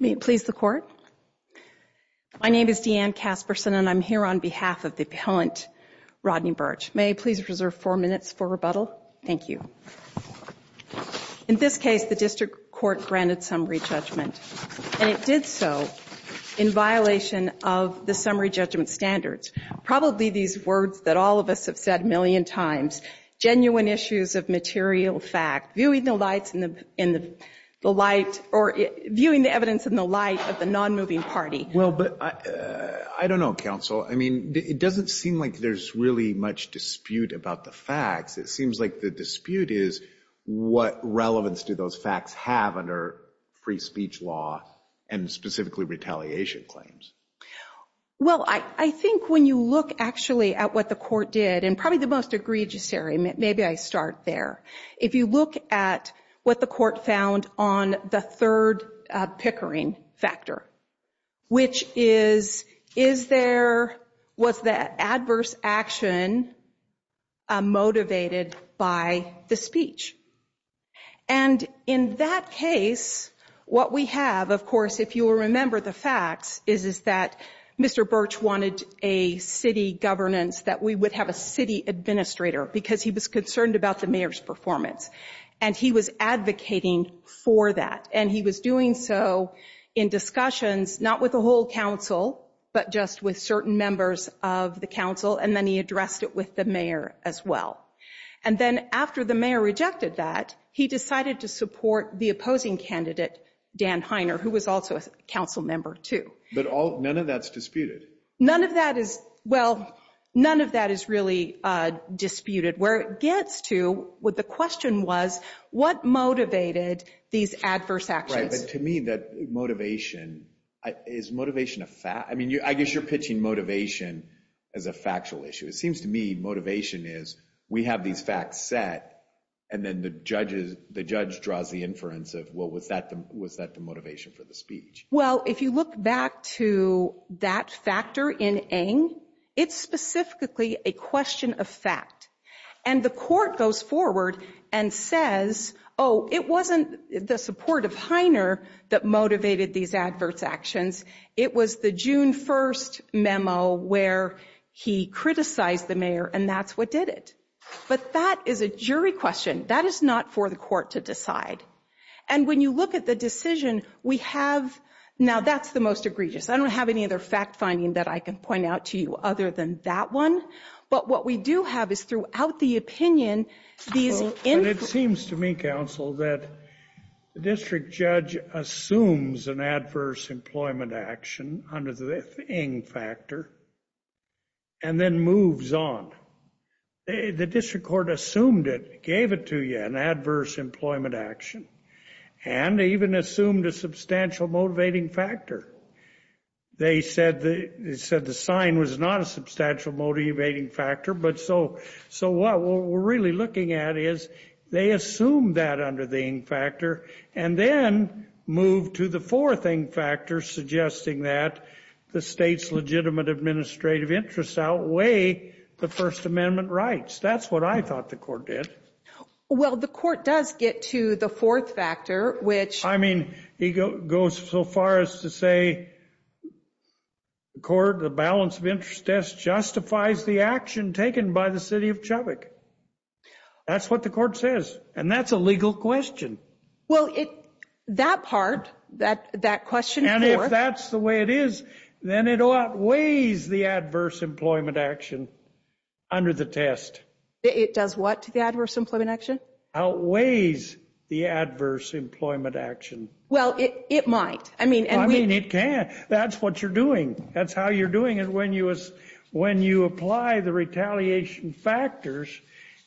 May it please the court? My name is Deanne Casperson, and I'm here on behalf of the appellant, Rodney Burch. May I please reserve four minutes for rebuttal? Thank you. In this case, the district court granted summary judgment, and it did so in violation of the summary judgment standards. Probably these words that all of us have said a million times, genuine issues of material fact, viewing the lights in the light, or viewing the evidence in the light of the non-moving party. Well, but I don't know, counsel. I mean, it doesn't seem like there's really much dispute about the facts. It seems like the dispute is what relevance do those facts have under free speech law and specifically retaliation claims? Well, I think when you look actually at what the court did, and probably the most egregious area, maybe I start there. If you look at what the court found on the third pickering factor, which is, is there, was the adverse action motivated by the speech? And in that case, what we have, of course, if you will remember the facts, is that Mr. Burch wanted a city governance that we would have a city administrator, because he was concerned about the mayor's performance, and he was advocating for that, and he was doing so in discussions, not with the whole council, but just with certain members of the council, and then he addressed it with the mayor as well. And then after the mayor rejected that, he decided to support the opposing candidate, Dan Heiner, who was also a council member, too. But all, none of that's disputed. None of that is, well, none of that is really disputed. Where it gets to, what the question was, what motivated these adverse actions? Right, but to me, that motivation, is motivation a fact? I mean, I guess you're pitching motivation as a factual issue. It seems to me, motivation is, we have these facts set, and then the judges, the judge draws the inference of, well, was that the, was that the motivation for the speech? Well, if you look back to that factor in Ng, it's specifically a question of fact. And the court goes forward and says, oh, it wasn't the support of Heiner that motivated these adverse actions. It was the June 1st memo where he criticized the mayor, and that's what did it. But that is a jury question. That is not for the court to decide. And when you look at the decision, we have, now, that's the most egregious. I don't have any other fact-finding that I can point out to you other than that one. But what we do have is, throughout the opinion, these inferences- But it seems to me, counsel, that the district judge assumes an adverse employment action under the Ng factor. And then moves on. The district court assumed it, gave it to you, an adverse employment action, and even assumed a substantial motivating factor. They said the, they said the sign was not a substantial motivating factor, but so, so what we're really looking at is, they assumed that under the Ng factor, and then moved to the fourth Ng factor, suggesting that the state's legitimate administrative interests outweigh the First Amendment rights. That's what I thought the court did. Well, the court does get to the fourth factor, which- I mean, he goes so far as to say, the court, the balance of interest test justifies the action taken by the city of Chubbuck. That's what the court says, and that's a legal question. Well, it, that part, that, that question- And if that's the way it is, then it outweighs the adverse employment action under the test. It does what to the adverse employment action? Outweighs the adverse employment action. Well, it, it might. I mean- I mean, it can. That's what you're doing. That's how you're doing it. When you, when you apply the retaliation factors,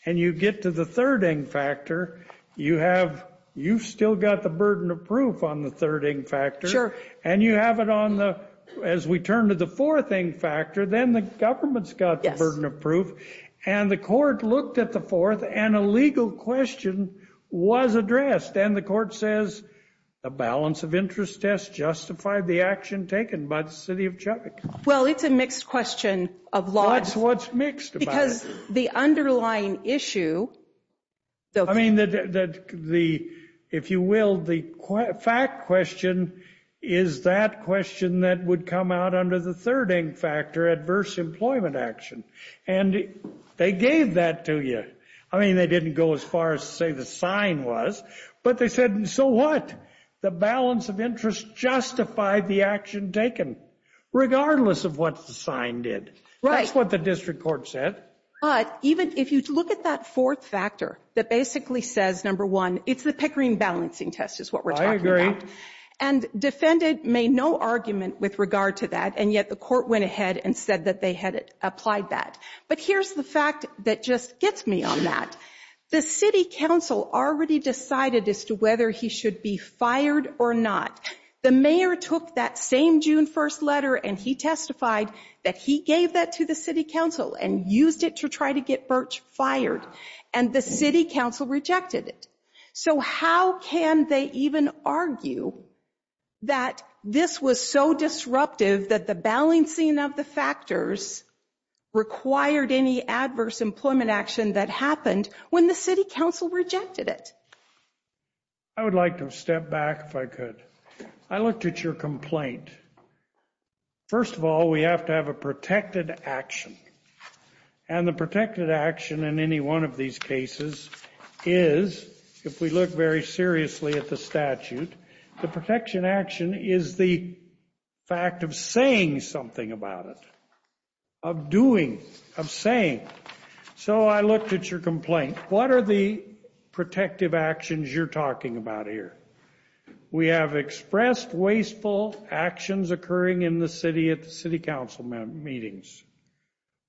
and you get to the third Ng factor, you have, you've still got the burden of proof on the third Ng factor. And you have it on the, as we turn to the fourth Ng factor, then the government's got the burden of proof, and the court looked at the fourth, and a legal question was addressed, and the court says, the balance of interest test justified the action taken by the city of Chubbuck. Well, it's a mixed question of laws. That's what's mixed about it. Because the underlying issue, though- I mean, the, the, the, if you will, the fact question is that question that would come out under the third Ng factor, adverse employment action. And they gave that to you. I mean, they didn't go as far as to say the sign was, but they said, so what? The balance of interest justified the action taken, regardless of what the sign did. That's what the district court said. But even if you look at that fourth factor, that basically says, number one, it's the Pickering balancing test is what we're talking about. And defendant made no argument with regard to that, and yet the court went ahead and said that they had applied that. But here's the fact that just gets me on that. The city council already decided as to whether he should be fired or not. The mayor took that same June 1st letter and he testified that he gave that to the city council and used it to try to get Birch fired, and the city council rejected it. So how can they even argue that this was so disruptive that the balancing of the factors required any adverse employment action that happened when the city council rejected it? I would like to step back if I could. I looked at your complaint. First of all, we have to have a protected action. And the protected action in any one of these cases is, if we look very seriously at the statute, the protection action is the fact of saying something about it, of doing, of saying. So I looked at your complaint. What are the protective actions you're talking about here? We have expressed wasteful actions occurring in the city at the city council meetings.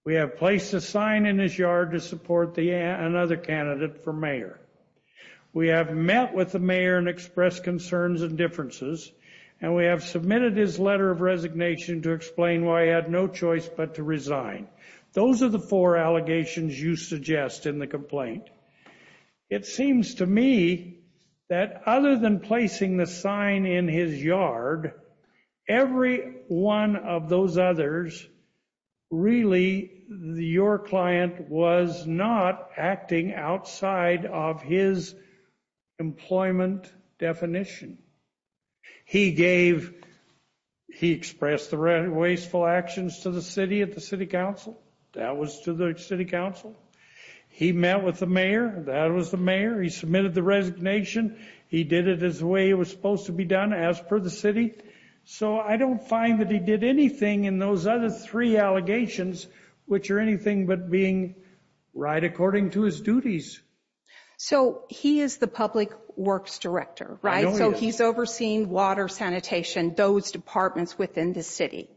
We have placed a sign in his yard to support another candidate for mayor. We have met with the mayor and expressed concerns and differences, and we have submitted his letter of resignation to explain why he had no choice but to resign. Those are the four allegations you suggest in the complaint. It seems to me that other than placing the sign in his yard, every one of those others, really, your client was not acting outside of his employment definition. He gave, he expressed the wasteful actions to the city at the city council. That was to the city council. He met with the mayor. That was the mayor. He submitted the resignation. He did it as the way it was supposed to be done, as per the city. So I don't find that he did anything in those other three allegations, which are anything but being right according to his duties. So he is the public works director, right? So he's overseeing water, sanitation, those departments within the city.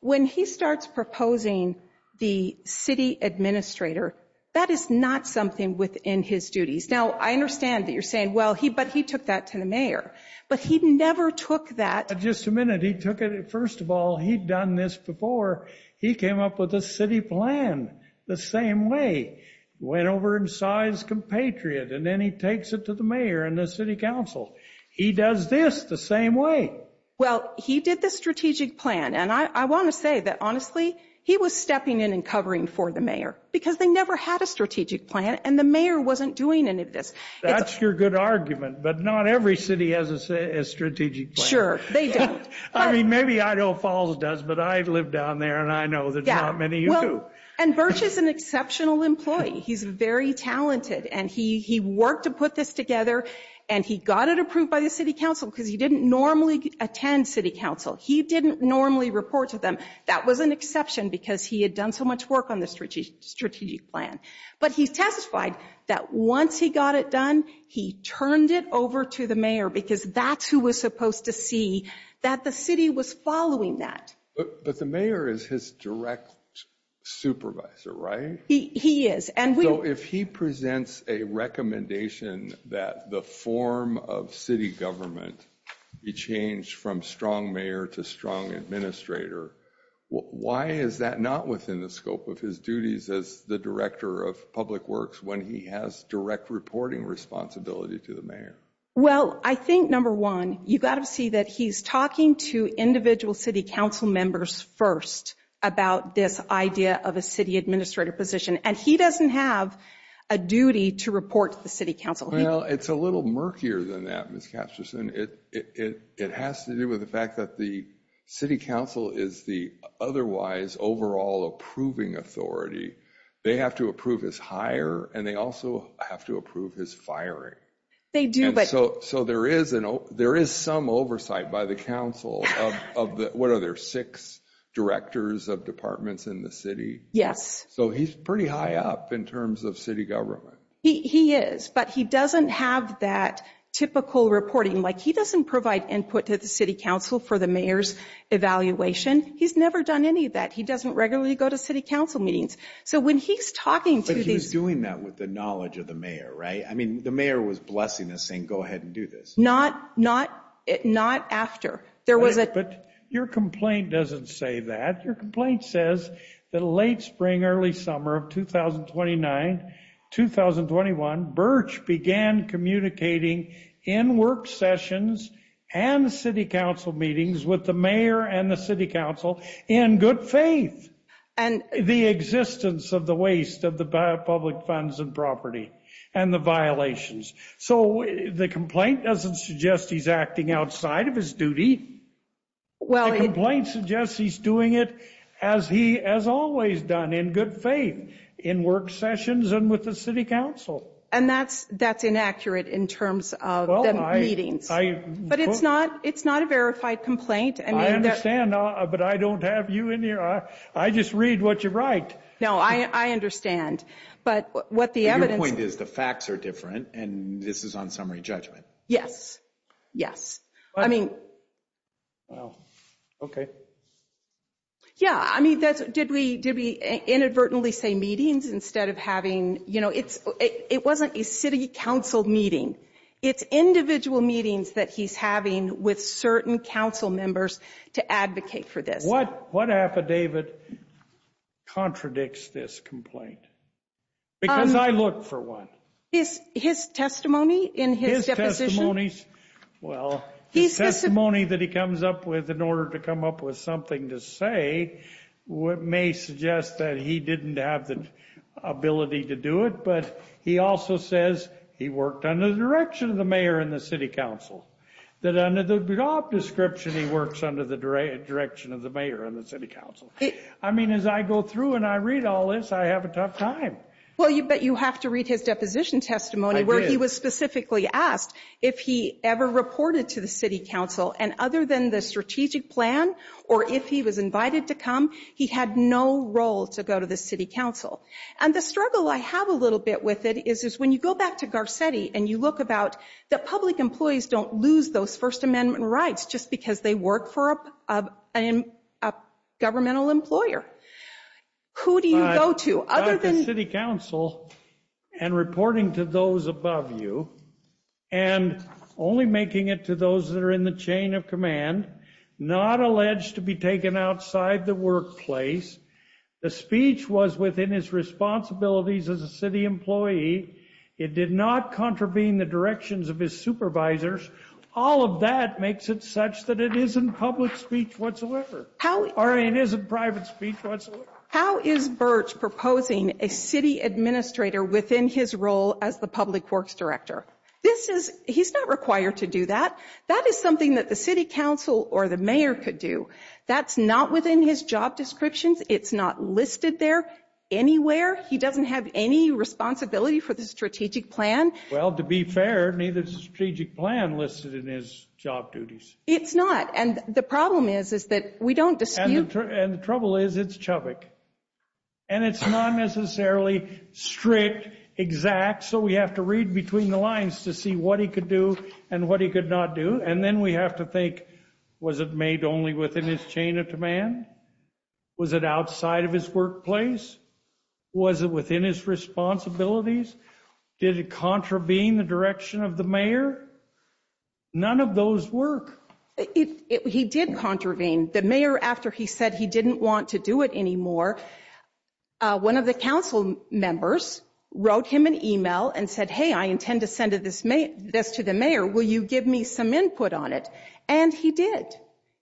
When he starts proposing the city administrator, that is not something within his duties. Now, I understand that you're saying, well, but he took that to the mayor. But he never took that. Just a minute. He took it, first of all, he'd done this before. He came up with a city plan the same way. Went over and saw his compatriot. And then he takes it to the mayor and the city council. He does this the same way. Well, he did the strategic plan. And I want to say that, honestly, he was stepping in and covering for the mayor. Because they never had a strategic plan. And the mayor wasn't doing any of this. That's your good argument. But not every city has a strategic plan. Sure, they don't. I mean, maybe Idaho Falls does. But I live down there. And I know there's not many who do. And Birch is an exceptional employee. He's very talented. And he worked to put this together. And he got it approved by the city council. Because he didn't normally attend city council. He didn't normally report to them. That was an exception. Because he had done so much work on the strategic plan. But he testified that once he got it done, he turned it over to the mayor. Because that's who was supposed to see that the city was following that. But the mayor is his direct supervisor, right? He is. And we- So if he presents a recommendation that the form of city government be changed from strong mayor to strong administrator, why is that not within the scope of his duties as the director of public works when he has direct reporting responsibility to the mayor? Well, I think, number one, you've got to see that he's talking to individual city council members first about this idea of a city administrator position. And he doesn't have a duty to report to the city council. Well, it's a little murkier than that, Ms. Casterson. It has to do with the fact that the city council is the otherwise overall approving authority. They have to approve his hire. And they also have to approve his firing. They do, but- And so there is some oversight by the council of, what are there, six directors of departments in the city? Yes. So he's pretty high up in terms of city government. He is. But he doesn't have that typical reporting. Like, he doesn't provide input to the city council for the mayor's evaluation. He's never done any of that. He doesn't regularly go to city council meetings. So when he's talking to these- But he was doing that with the knowledge of the mayor, right? I mean, the mayor was blessing us, saying, go ahead and do this. Not after. There was a- But your complaint doesn't say that. Your complaint says that late spring, early summer of 2029, 2021, Birch began communicating in work sessions and city council meetings with the mayor and the city council in good faith. And- The existence of the waste of the public funds and property and the violations. So the complaint doesn't suggest he's acting outside of his duty. The complaint suggests he's doing it as he has always done, in good faith, in work sessions and with the city council. And that's inaccurate in terms of the meetings. But it's not a verified complaint. I understand, but I don't have you in here. I just read what you write. No, I understand. But what the evidence- Your point is the facts are different and this is on summary judgment. Yes, yes. I mean- Well, okay. Yeah, I mean, did we inadvertently say meetings instead of having- You know, it wasn't a city council meeting. It's individual meetings that he's having with certain council members to advocate for this. What affidavit contradicts this complaint? Because I look for one. His testimony in his deposition? Well, the testimony that he comes up with in order to come up with something to say may suggest that he didn't have the ability to do it. But he also says he worked under the direction of the mayor and the city council. That under the job description, he works under the direction of the mayor and the city council. I mean, as I go through and I read all this, I have a tough time. Well, but you have to read his deposition testimony where he was specifically asked if he ever reported to the city council. And other than the strategic plan or if he was invited to come, he had no role to go to the city council. And the struggle I have a little bit with it is when you go back to Garcetti and you look about the public employees don't lose those First Amendment rights just because they work for a governmental employer. Who do you go to other than- The city council and reporting to those above you and only making it to those that are in the chain of command, not alleged to be taken outside the workplace. The speech was within his responsibilities as a city employee. It did not contravene the directions of his supervisors. All of that makes it such that it isn't public speech whatsoever. Or it isn't private speech whatsoever. How is Birch proposing a city administrator within his role as the public works director? This is- he's not required to do that. That is something that the city council or the mayor could do. That's not within his job descriptions. It's not listed there anywhere. He doesn't have any responsibility for the strategic plan. Well, to be fair, neither is the strategic plan listed in his job duties. It's not. And the problem is is that we don't dispute- And the trouble is it's Chubbuck. And it's not necessarily strict, exact. So we have to read between the lines to see what he could do and what he could not do. And then we have to think, was it made only within his chain of demand? Was it outside of his workplace? Was it within his responsibilities? Did it contravene the direction of the mayor? None of those work. It- he did contravene. The mayor, after he said he didn't want to do it anymore, one of the council members wrote him an email and said, hey, I intend to send this to the mayor. Will you give me some input on it? And he did.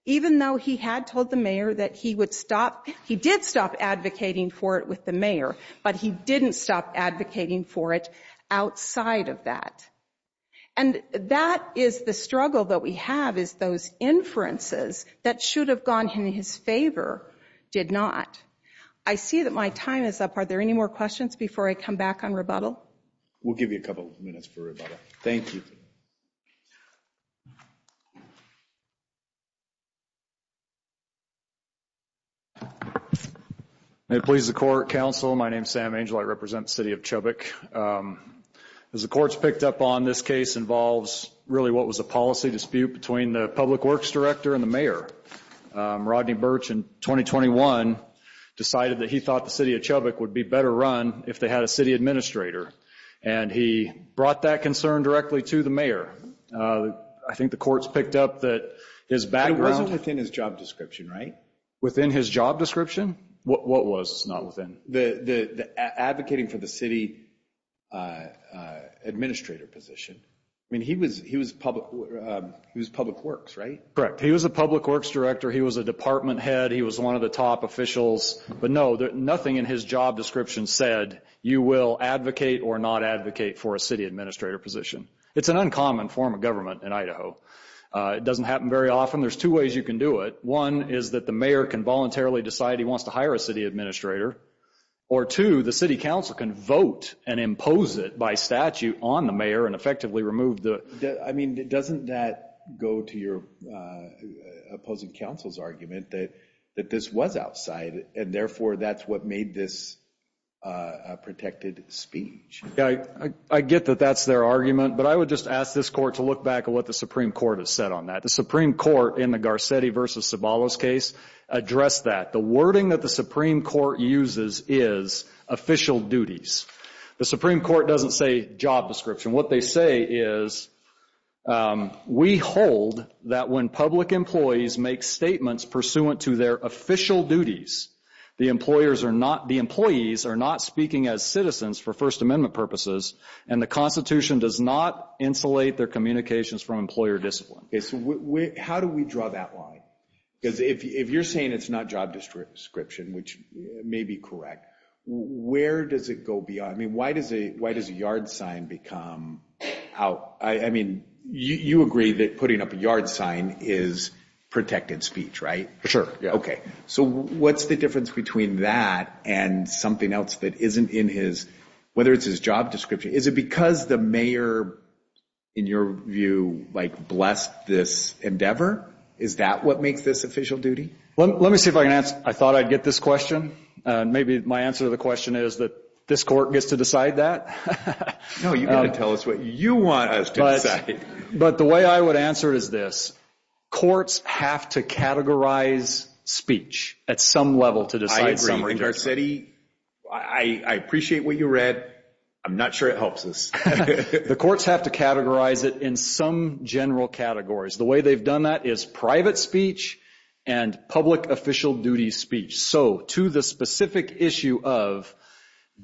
Even though he had told the mayor that he would stop- he did stop advocating for it with the mayor, but he didn't stop advocating for it outside of that. And that is the struggle that we have is those inferences that should have gone in his favor did not. I see that my time is up. Are there any more questions before I come back on rebuttal? We'll give you a couple of minutes for rebuttal. Thank you. May it please the court, counsel. My name is Sam Angel. I represent the city of Chubbuck. As the courts picked up on, this case involves really what was a policy dispute between the public works director and the mayor. Rodney Birch in 2021 decided that he thought the city of Chubbuck would be better run if they had a city administrator. And he brought that concern directly to the mayor. I think the courts picked up that his background- It wasn't within his job description, right? Within his job description? What was not within? The advocating for the city administrator position. I mean, he was public works, right? Correct. He was a public works director. He was a department head. He was one of the top officials. But no, nothing in his job description said you will advocate or not advocate for a city administrator position. It's an uncommon form of government in Idaho. It doesn't happen very often. There's two ways you can do it. One is that the mayor can voluntarily decide he wants to hire a city administrator. Or two, the city council can vote and impose it by statute on the mayor and effectively remove the- I mean, doesn't that go to your opposing counsel's argument that this was outside? And therefore, that's what made this a protected speech. Yeah, I get that that's their argument. But I would just ask this court to look back at what the Supreme Court has said on that. The Supreme Court, in the Garcetti v. Zabala's case, addressed that. The wording that the Supreme Court uses is official duties. The Supreme Court doesn't say job description. What they say is, we hold that when public employees make statements pursuant to their official duties, the employees are not speaking as citizens for First Amendment purposes, and the Constitution does not insulate their communications from employer discipline. How do we draw that line? Because if you're saying it's not job description, which may be correct, where does it go beyond? I mean, why does a yard sign become out? I mean, you agree that putting up a yard sign is protected speech, right? For sure, yeah. Okay, so what's the difference between that and something else that isn't in his- whether it's his job description? Is it because the mayor, in your view, like blessed this endeavor? Is that what makes this official duty? Let me see if I can answer- I thought I'd get this question. Maybe my answer to the question is that this court gets to decide that. No, you've got to tell us what you want us to decide. But the way I would answer is this. Courts have to categorize speech at some level to decide- I agree, and Garcetti, I appreciate what you read. I'm not sure it helps us. The courts have to categorize it in some general categories. The way they've done that is private speech and public official duty speech. So, to the specific issue of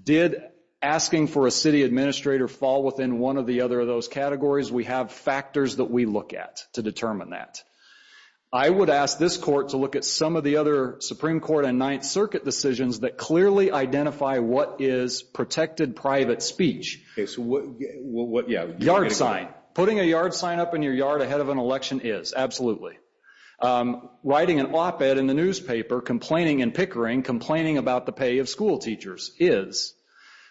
did asking for a city administrator fall within one of the other of those categories, we have factors that we look at to determine that. I would ask this court to look at some of the other Supreme Court and Ninth Circuit decisions that clearly identify what is protected private speech. Okay, so what- yeah. Yard sign. Putting a yard sign up in your yard ahead of an election is, absolutely. Writing an op-ed in the newspaper, complaining and pickering, complaining about the pay of school teachers is.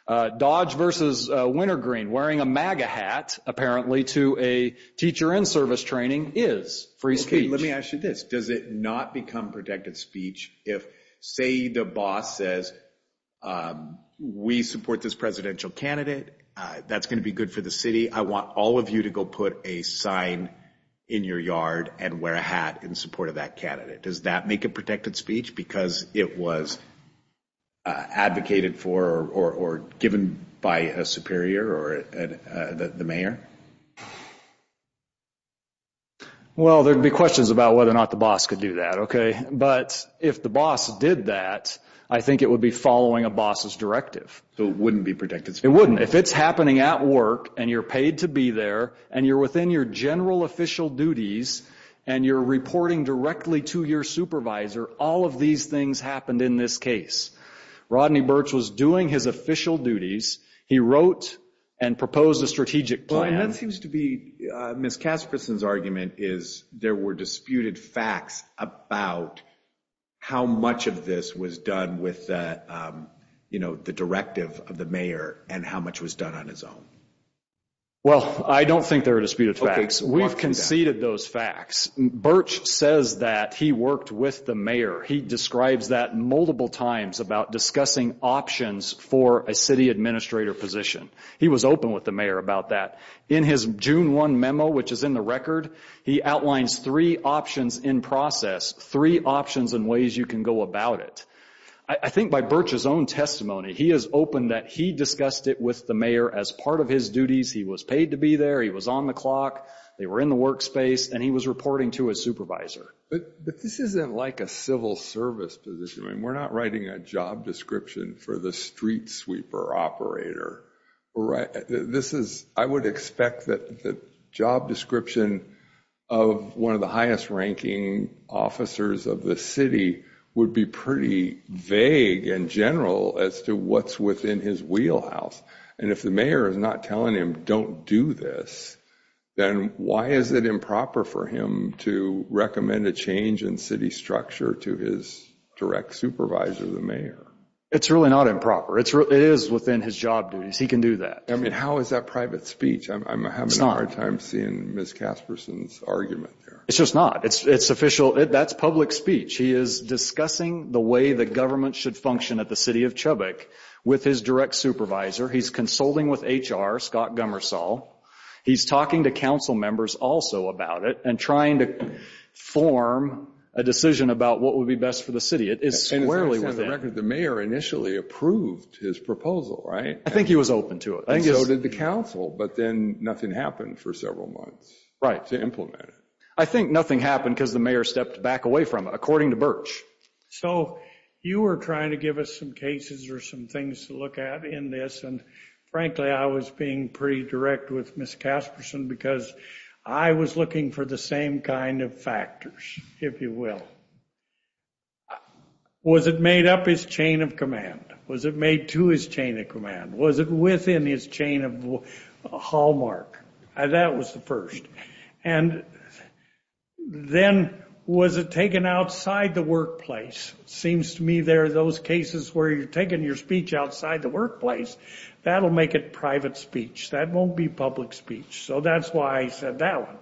Dodge versus Wintergreen, wearing a MAGA hat, apparently, to a teacher in service training is free speech. Okay, let me ask you this. Does it not become protected speech if, say, the boss says, we support this presidential candidate, that's going to be good for the city, I want all of you to go put a sign in your yard and wear a hat in support of that candidate. Does that make it protected speech because it was advocated for or given by a superior or the mayor? Well, there'd be questions about whether or not the boss could do that, okay? But if the boss did that, I think it would be following a boss's directive. So it wouldn't be protected speech? It wouldn't. If it's happening at work, and you're paid to be there, and you're within your general official duties, and you're reporting directly to your supervisor, all of these things happened in this case. Rodney Birch was doing his official duties. He wrote and proposed a strategic plan. Well, and that seems to be Ms. Casperson's argument, is there were disputed facts about how much of this was done with, you know, the directive of the mayor and how much was done on his own? Well, I don't think there are disputed facts. We've conceded those facts. Birch says that he worked with the mayor. He describes that multiple times about discussing options for a city administrator position. He was open with the mayor about that. In his June 1 memo, which is in the record, he outlines three options in process, three options and ways you can go about it. I think by Birch's own testimony, he is open that he discussed it with the mayor as part of his duties. He was paid to be there. He was on the clock. They were in the workspace, and he was reporting to his supervisor. But this isn't like a civil service position. I mean, we're not writing a job description for the street sweeper operator. I would expect that the job description of one of the highest-ranking officers of the city would be pretty vague and general as to what's within his wheelhouse. And if the mayor is not telling him, don't do this, then why is it improper for him to recommend a change in city structure to his direct supervisor, the mayor? It's really not improper. It is within his job duties. He can do that. I mean, how is that private speech? I'm having a hard time seeing Ms. Casperson's argument there. It's just not. It's official. That's public speech. He is discussing the way the government should function at the city of Chubbuck with his direct supervisor. He's consulting with HR, Scott Gummersall. He's talking to council members also about it and trying to form a decision about what would be best for the city. For the record, the mayor initially approved his proposal, right? I think he was open to it. And so did the council, but then nothing happened for several months to implement it. I think nothing happened because the mayor stepped back away from it, according to Birch. So you were trying to give us some cases or some things to look at in this, and frankly, I was being pretty direct with Ms. Casperson because I was looking for the same kind of factors, if you will. Was it made up his chain of command? Was it made to his chain of command? Was it within his chain of hallmark? That was the first. And then was it taken outside the workplace? It seems to me there are those cases where you're taking your speech outside the workplace. That'll make it private speech. That won't be public speech. So that's why I said that one.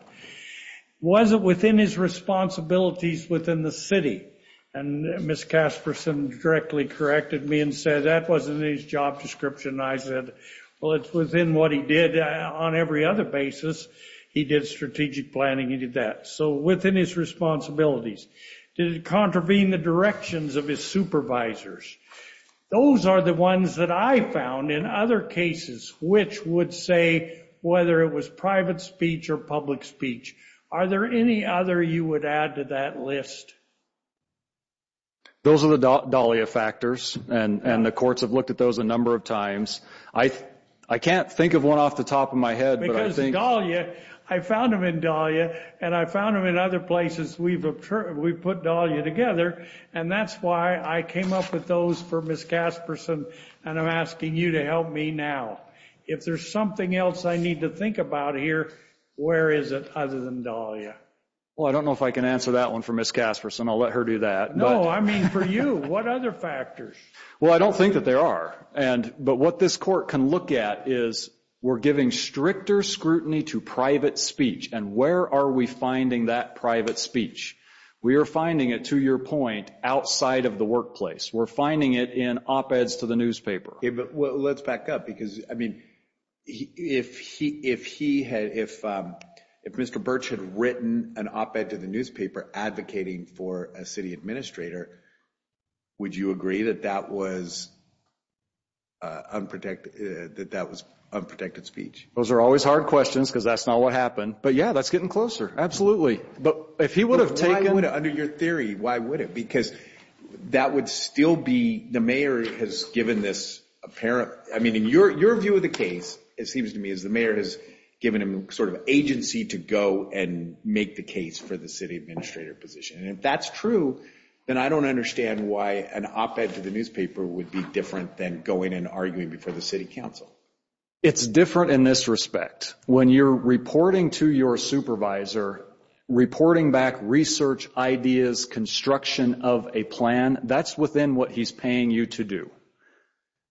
Was it within his responsibilities within the city? And Ms. Casperson directly corrected me and said that wasn't his job description. I said, well, it's within what he did on every other basis. He did strategic planning. He did that. So within his responsibilities. Did it contravene the directions of his supervisors? Those are the ones that I found in other cases which would say whether it was private speech or public speech. Are there any other you would add to that list? Those are the Dahlia factors, and the courts have looked at those a number of times. I can't think of one off the top of my head, but I think – Because Dahlia, I found them in Dahlia, and I found them in other places we've put Dahlia together, and that's why I came up with those for Ms. Casperson, and I'm asking you to help me now. If there's something else I need to think about here, where is it other than Dahlia? Well, I don't know if I can answer that one for Ms. Casperson. I'll let her do that. No, I mean for you. What other factors? Well, I don't think that there are. But what this court can look at is we're giving stricter scrutiny to private speech, and where are we finding that private speech? We are finding it, to your point, outside of the workplace. We're finding it in op-eds to the newspaper. Let's back up because, I mean, if Mr. Birch had written an op-ed to the newspaper advocating for a city administrator, would you agree that that was unprotected speech? Those are always hard questions because that's not what happened. But, yeah, that's getting closer. Absolutely. But under your theory, why would it? Because that would still be the mayor has given this apparent. I mean, in your view of the case, it seems to me, is the mayor has given him sort of agency to go and make the case for the city administrator position. And if that's true, then I don't understand why an op-ed to the newspaper would be different than going and arguing before the city council. It's different in this respect. When you're reporting to your supervisor, reporting back research ideas, construction of a plan, that's within what he's paying you to do.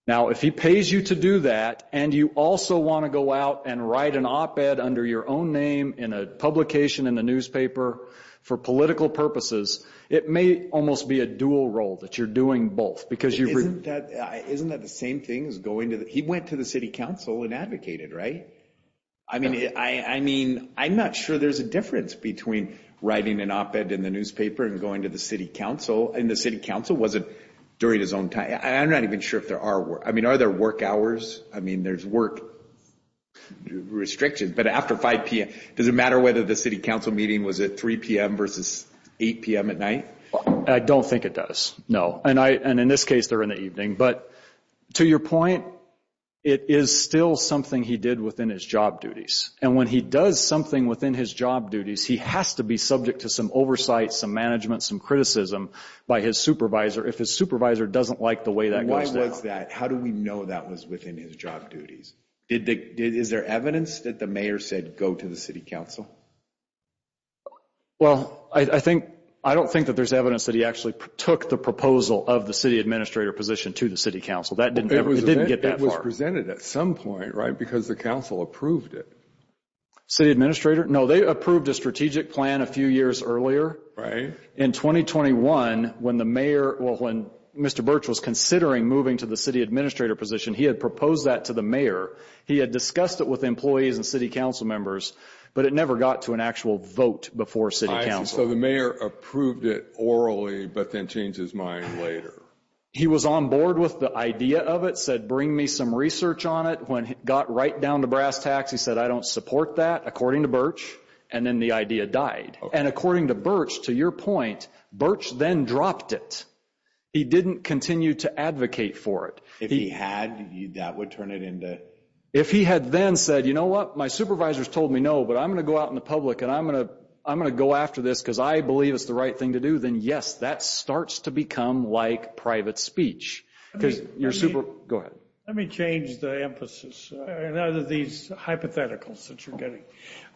Now, if he pays you to do that and you also want to go out and write an op-ed under your own name in a publication, in a newspaper, for political purposes, it may almost be a dual role that you're doing both. Isn't that the same thing? He went to the city council and advocated, right? I mean, I'm not sure there's a difference between writing an op-ed in the newspaper and going to the city council. And the city council wasn't during his own time. I'm not even sure if there are. I mean, are there work hours? I mean, there's work restrictions. But after 5 p.m., does it matter whether the city council meeting was at 3 p.m. versus 8 p.m. at night? I don't think it does, no. And in this case, they're in the evening. But to your point, it is still something he did within his job duties. And when he does something within his job duties, he has to be subject to some oversight, some management, some criticism by his supervisor if his supervisor doesn't like the way that goes down. Why was that? How do we know that was within his job duties? Is there evidence that the mayor said go to the city council? Well, I don't think that there's evidence that he actually took the proposal of the city administrator position to the city council. It didn't get that far. It was presented at some point, right, because the council approved it. City administrator? No, they approved a strategic plan a few years earlier. In 2021, when Mr. Birch was considering moving to the city administrator position, he had proposed that to the mayor. He had discussed it with employees and city council members, but it never got to an actual vote before city council. So the mayor approved it orally but then changed his mind later. He was on board with the idea of it, said bring me some research on it. When it got right down to brass tacks, he said I don't support that, according to Birch, and then the idea died. And according to Birch, to your point, Birch then dropped it. He didn't continue to advocate for it. If he had, that would turn it into? If he had then said, you know what, my supervisor's told me no, but I'm going to go out in the public and I'm going to go after this because I believe it's the right thing to do, then, yes, that starts to become like private speech. Go ahead. Let me change the emphasis. I know these hypotheticals that you're getting.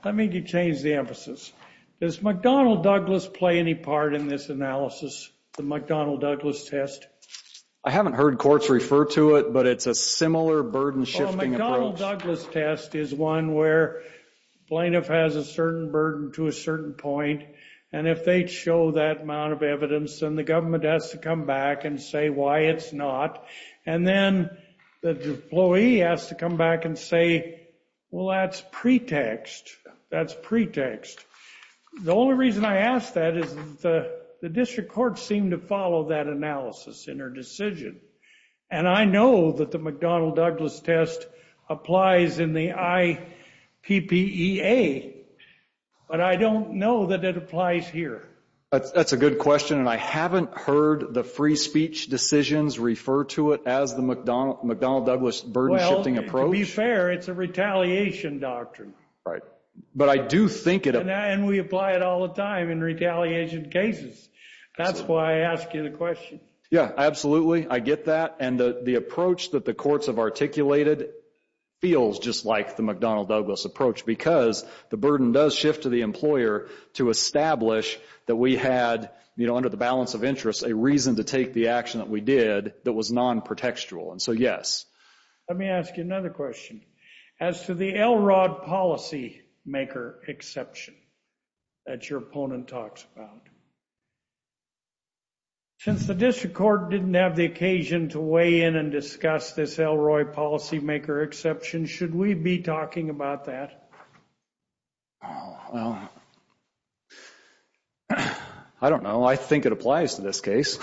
Let me change the emphasis. Does McDonnell Douglas play any part in this analysis, the McDonnell Douglas test? I haven't heard courts refer to it, but it's a similar burden-shifting approach. The McDonnell Douglas test is one where plaintiff has a certain burden to a certain point, and if they show that amount of evidence, then the government has to come back and say why it's not. And then the employee has to come back and say, well, that's pretext. That's pretext. The only reason I ask that is the district courts seem to follow that analysis in their decision. And I know that the McDonnell Douglas test applies in the IPPEA, but I don't know that it applies here. That's a good question, and I haven't heard the free speech decisions refer to it as the McDonnell Douglas burden-shifting approach. Well, to be fair, it's a retaliation doctrine. But I do think it applies. And we apply it all the time in retaliation cases. That's why I ask you the question. Yeah, absolutely. I get that. And the approach that the courts have articulated feels just like the McDonnell Douglas approach because the burden does shift to the employer to establish that we had, you know, under the balance of interest, a reason to take the action that we did that was non-pretextual. And so, yes. Let me ask you another question. As to the LROD policymaker exception that your opponent talks about, since the district court didn't have the occasion to weigh in and discuss this LROD policymaker exception, should we be talking about that? Well, I don't know. I think it applies to this case.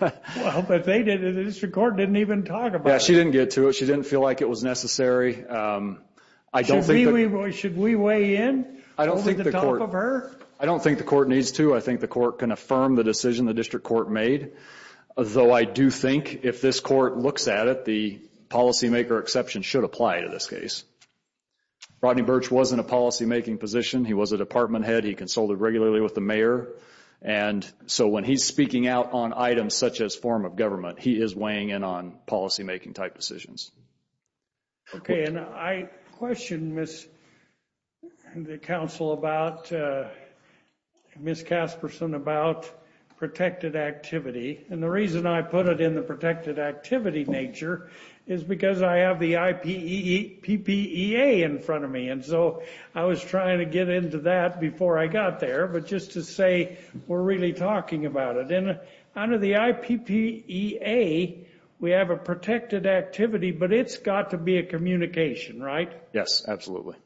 Well, but the district court didn't even talk about it. Yeah, she didn't get to it. She didn't feel like it was necessary. Should we weigh in over the top of her? I don't think the court needs to. I think the court can affirm the decision the district court made, though I do think if this court looks at it, the policymaker exception should apply to this case. Rodney Burch wasn't a policymaking position. He was a department head. He consulted regularly with the mayor. And so when he's speaking out on items such as form of government, he is weighing in on policymaking-type decisions. Okay. And I questioned the council about, Ms. Casperson, about protected activity. And the reason I put it in the protected activity nature is because I have the IPPEA in front of me. And so I was trying to get into that before I got there, but just to say we're really talking about it. And under the IPPEA, we have a protected activity, but it's got to be a communication, right? Yes, absolutely.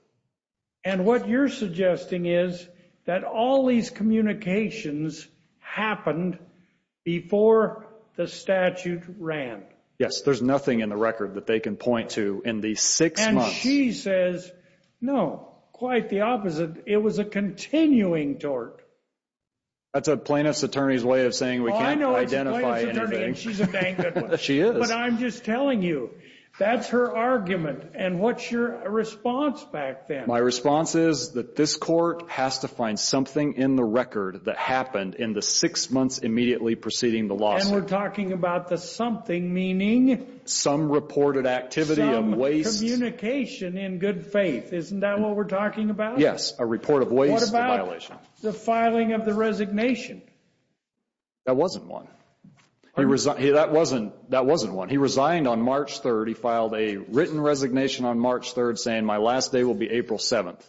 And what you're suggesting is that all these communications happened before the statute ran. Yes. There's nothing in the record that they can point to in these six months. And she says, no, quite the opposite. It was a continuing tort. That's a plaintiff's attorney's way of saying we can't identify anything. She's a dang good one. She is. But I'm just telling you, that's her argument. And what's your response back then? My response is that this court has to find something in the record that happened in the six months immediately preceding the lawsuit. And we're talking about the something meaning? Some reported activity of waste. Some communication in good faith. Isn't that what we're talking about? Yes, a report of waste and violation. The filing of the resignation. That wasn't one. That wasn't one. He resigned on March 3rd. He filed a written resignation on March 3rd saying my last day will be April 7th.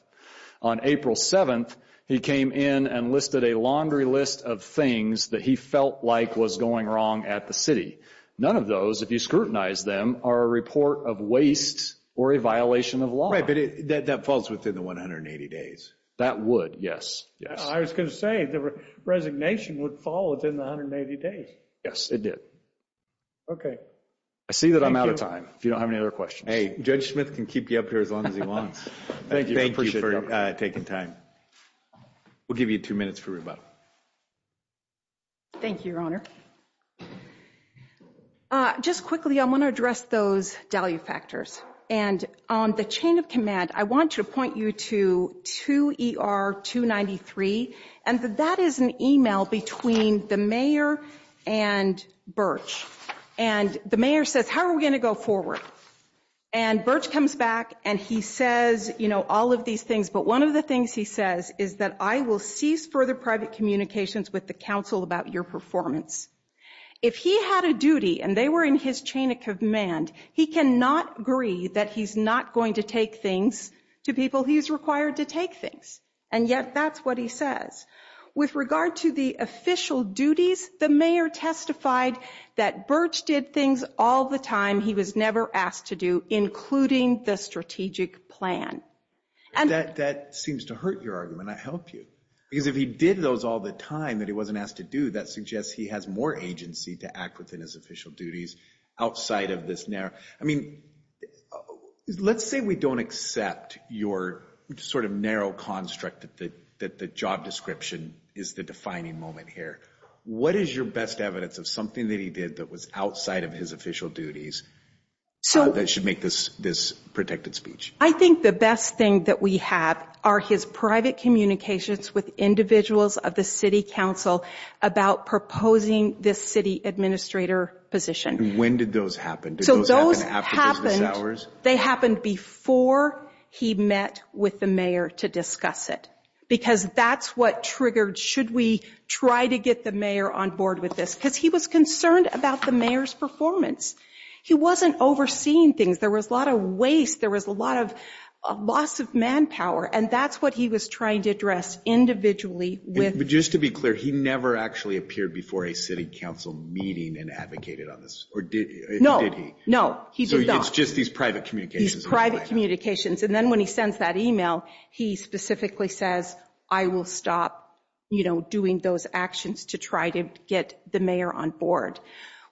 On April 7th, he came in and listed a laundry list of things that he felt like was going wrong at the city. None of those, if you scrutinize them, are a report of waste or a violation of law. Right, but that falls within the 180 days. That would, yes. I was going to say the resignation would fall within the 180 days. Yes, it did. Okay. I see that I'm out of time if you don't have any other questions. Hey, Judge Smith can keep you up here as long as he wants. Thank you for taking time. We'll give you two minutes for rebuttal. Thank you, Your Honor. Just quickly, I want to address those value factors. And on the chain of command, I want to point you to 2ER293. And that is an email between the mayor and Birch. And the mayor says, how are we going to go forward? And Birch comes back and he says, you know, all of these things. But one of the things he says is that I will cease further private communications with the council about your performance. If he had a duty and they were in his chain of command, he cannot agree that he's not going to take things to people he's required to take things. And yet that's what he says. With regard to the official duties, the mayor testified that Birch did things all the time he was never asked to do, including the strategic plan. That seems to hurt your argument. I help you. Because if he did those all the time that he wasn't asked to do, that suggests he has more agency to act within his official duties outside of this narrow. I mean, let's say we don't accept your sort of narrow construct that the job description is the defining moment here. What is your best evidence of something that he did that was outside of his official duties that should make this protected speech? I think the best thing that we have are his private communications with individuals of the city council about proposing this city administrator position. And when did those happen? Did those happen after business hours? They happened before he met with the mayor to discuss it. Because that's what triggered should we try to get the mayor on board with this. Because he was concerned about the mayor's performance. He wasn't overseeing things. There was a lot of waste. There was a lot of loss of manpower. And that's what he was trying to address individually. But just to be clear, he never actually appeared before a city council meeting and advocated on this? Or did he? No, he did not. So it's just these private communications. These private communications. And then when he sends that email, he specifically says, I will stop doing those actions to try to get the mayor on board.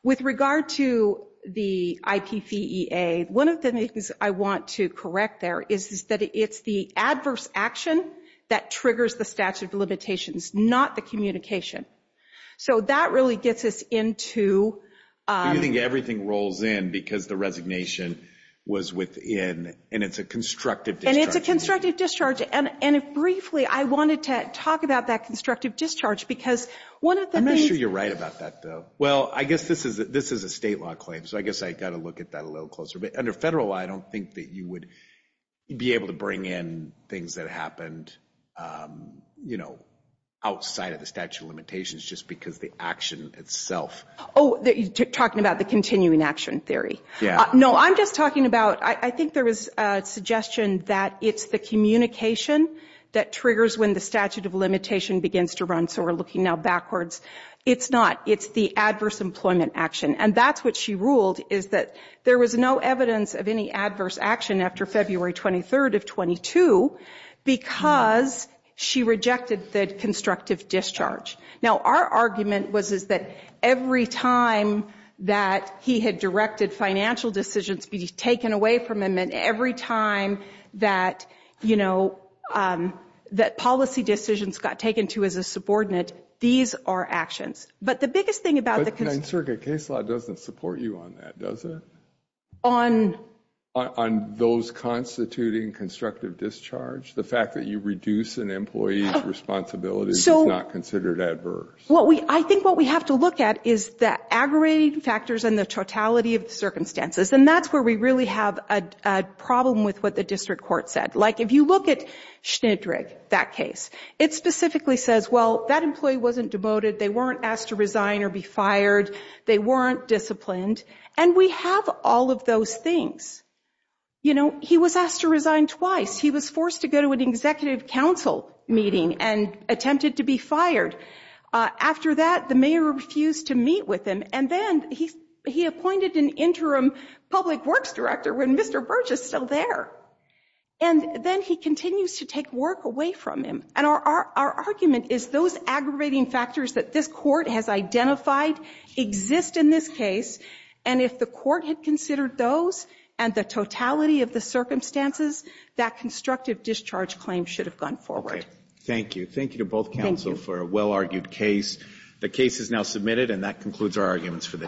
With regard to the IPVEA, one of the things I want to correct there is that it's the adverse action that triggers the statute of limitations, not the communication. So that really gets us into. You think everything rolls in because the resignation was within, and it's a constructive. And it's a constructive discharge. And briefly, I wanted to talk about that constructive discharge because one of the. I'm not sure you're right about that though. Well, I guess this is a state law claim. So I guess I got to look at that a little closer. But under federal law, I don't think that you would be able to bring in things that happened, you know, outside of the statute of limitations just because the action itself. Oh, you're talking about the continuing action theory. Yeah. No, I'm just talking about. I think there was a suggestion that it's the communication that triggers when the statute of limitation begins to run. So we're looking now backwards. It's not. It's the adverse employment action. And that's what she ruled is that there was no evidence of any adverse action after February 23rd of 22, because she rejected the constructive discharge. Now, our argument was is that every time that he had directed financial decisions be taken away from him and every time that, you know, that policy decisions got taken to as a subordinate, these are actions. But the biggest thing about the case law doesn't support you on that, does it? On. On those constituting constructive discharge. The fact that you reduce an employee's responsibility. So not considered adverse. Well, I think what we have to look at is that aggravating factors and the totality of the circumstances. And that's where we really have a problem with what the district court said. Like, if you look at that case, it specifically says, well, that employee wasn't devoted. They weren't asked to resign or be fired. They weren't disciplined. And we have all of those things. You know, he was asked to resign twice. He was forced to go to an executive council meeting and attempted to be After that, the mayor refused to meet with him. And then he, he appointed an interim public works director when Mr. Burge is still there. And then he continues to take work away from him. And our, our argument is those aggravating factors that this court has identified exist in this case. And if the court had considered those and the totality of the circumstances, that constructive discharge claim should have gone forward. Thank you. Thank you to both counsel for a well-argued case. The case is now submitted and that concludes our arguments for the day.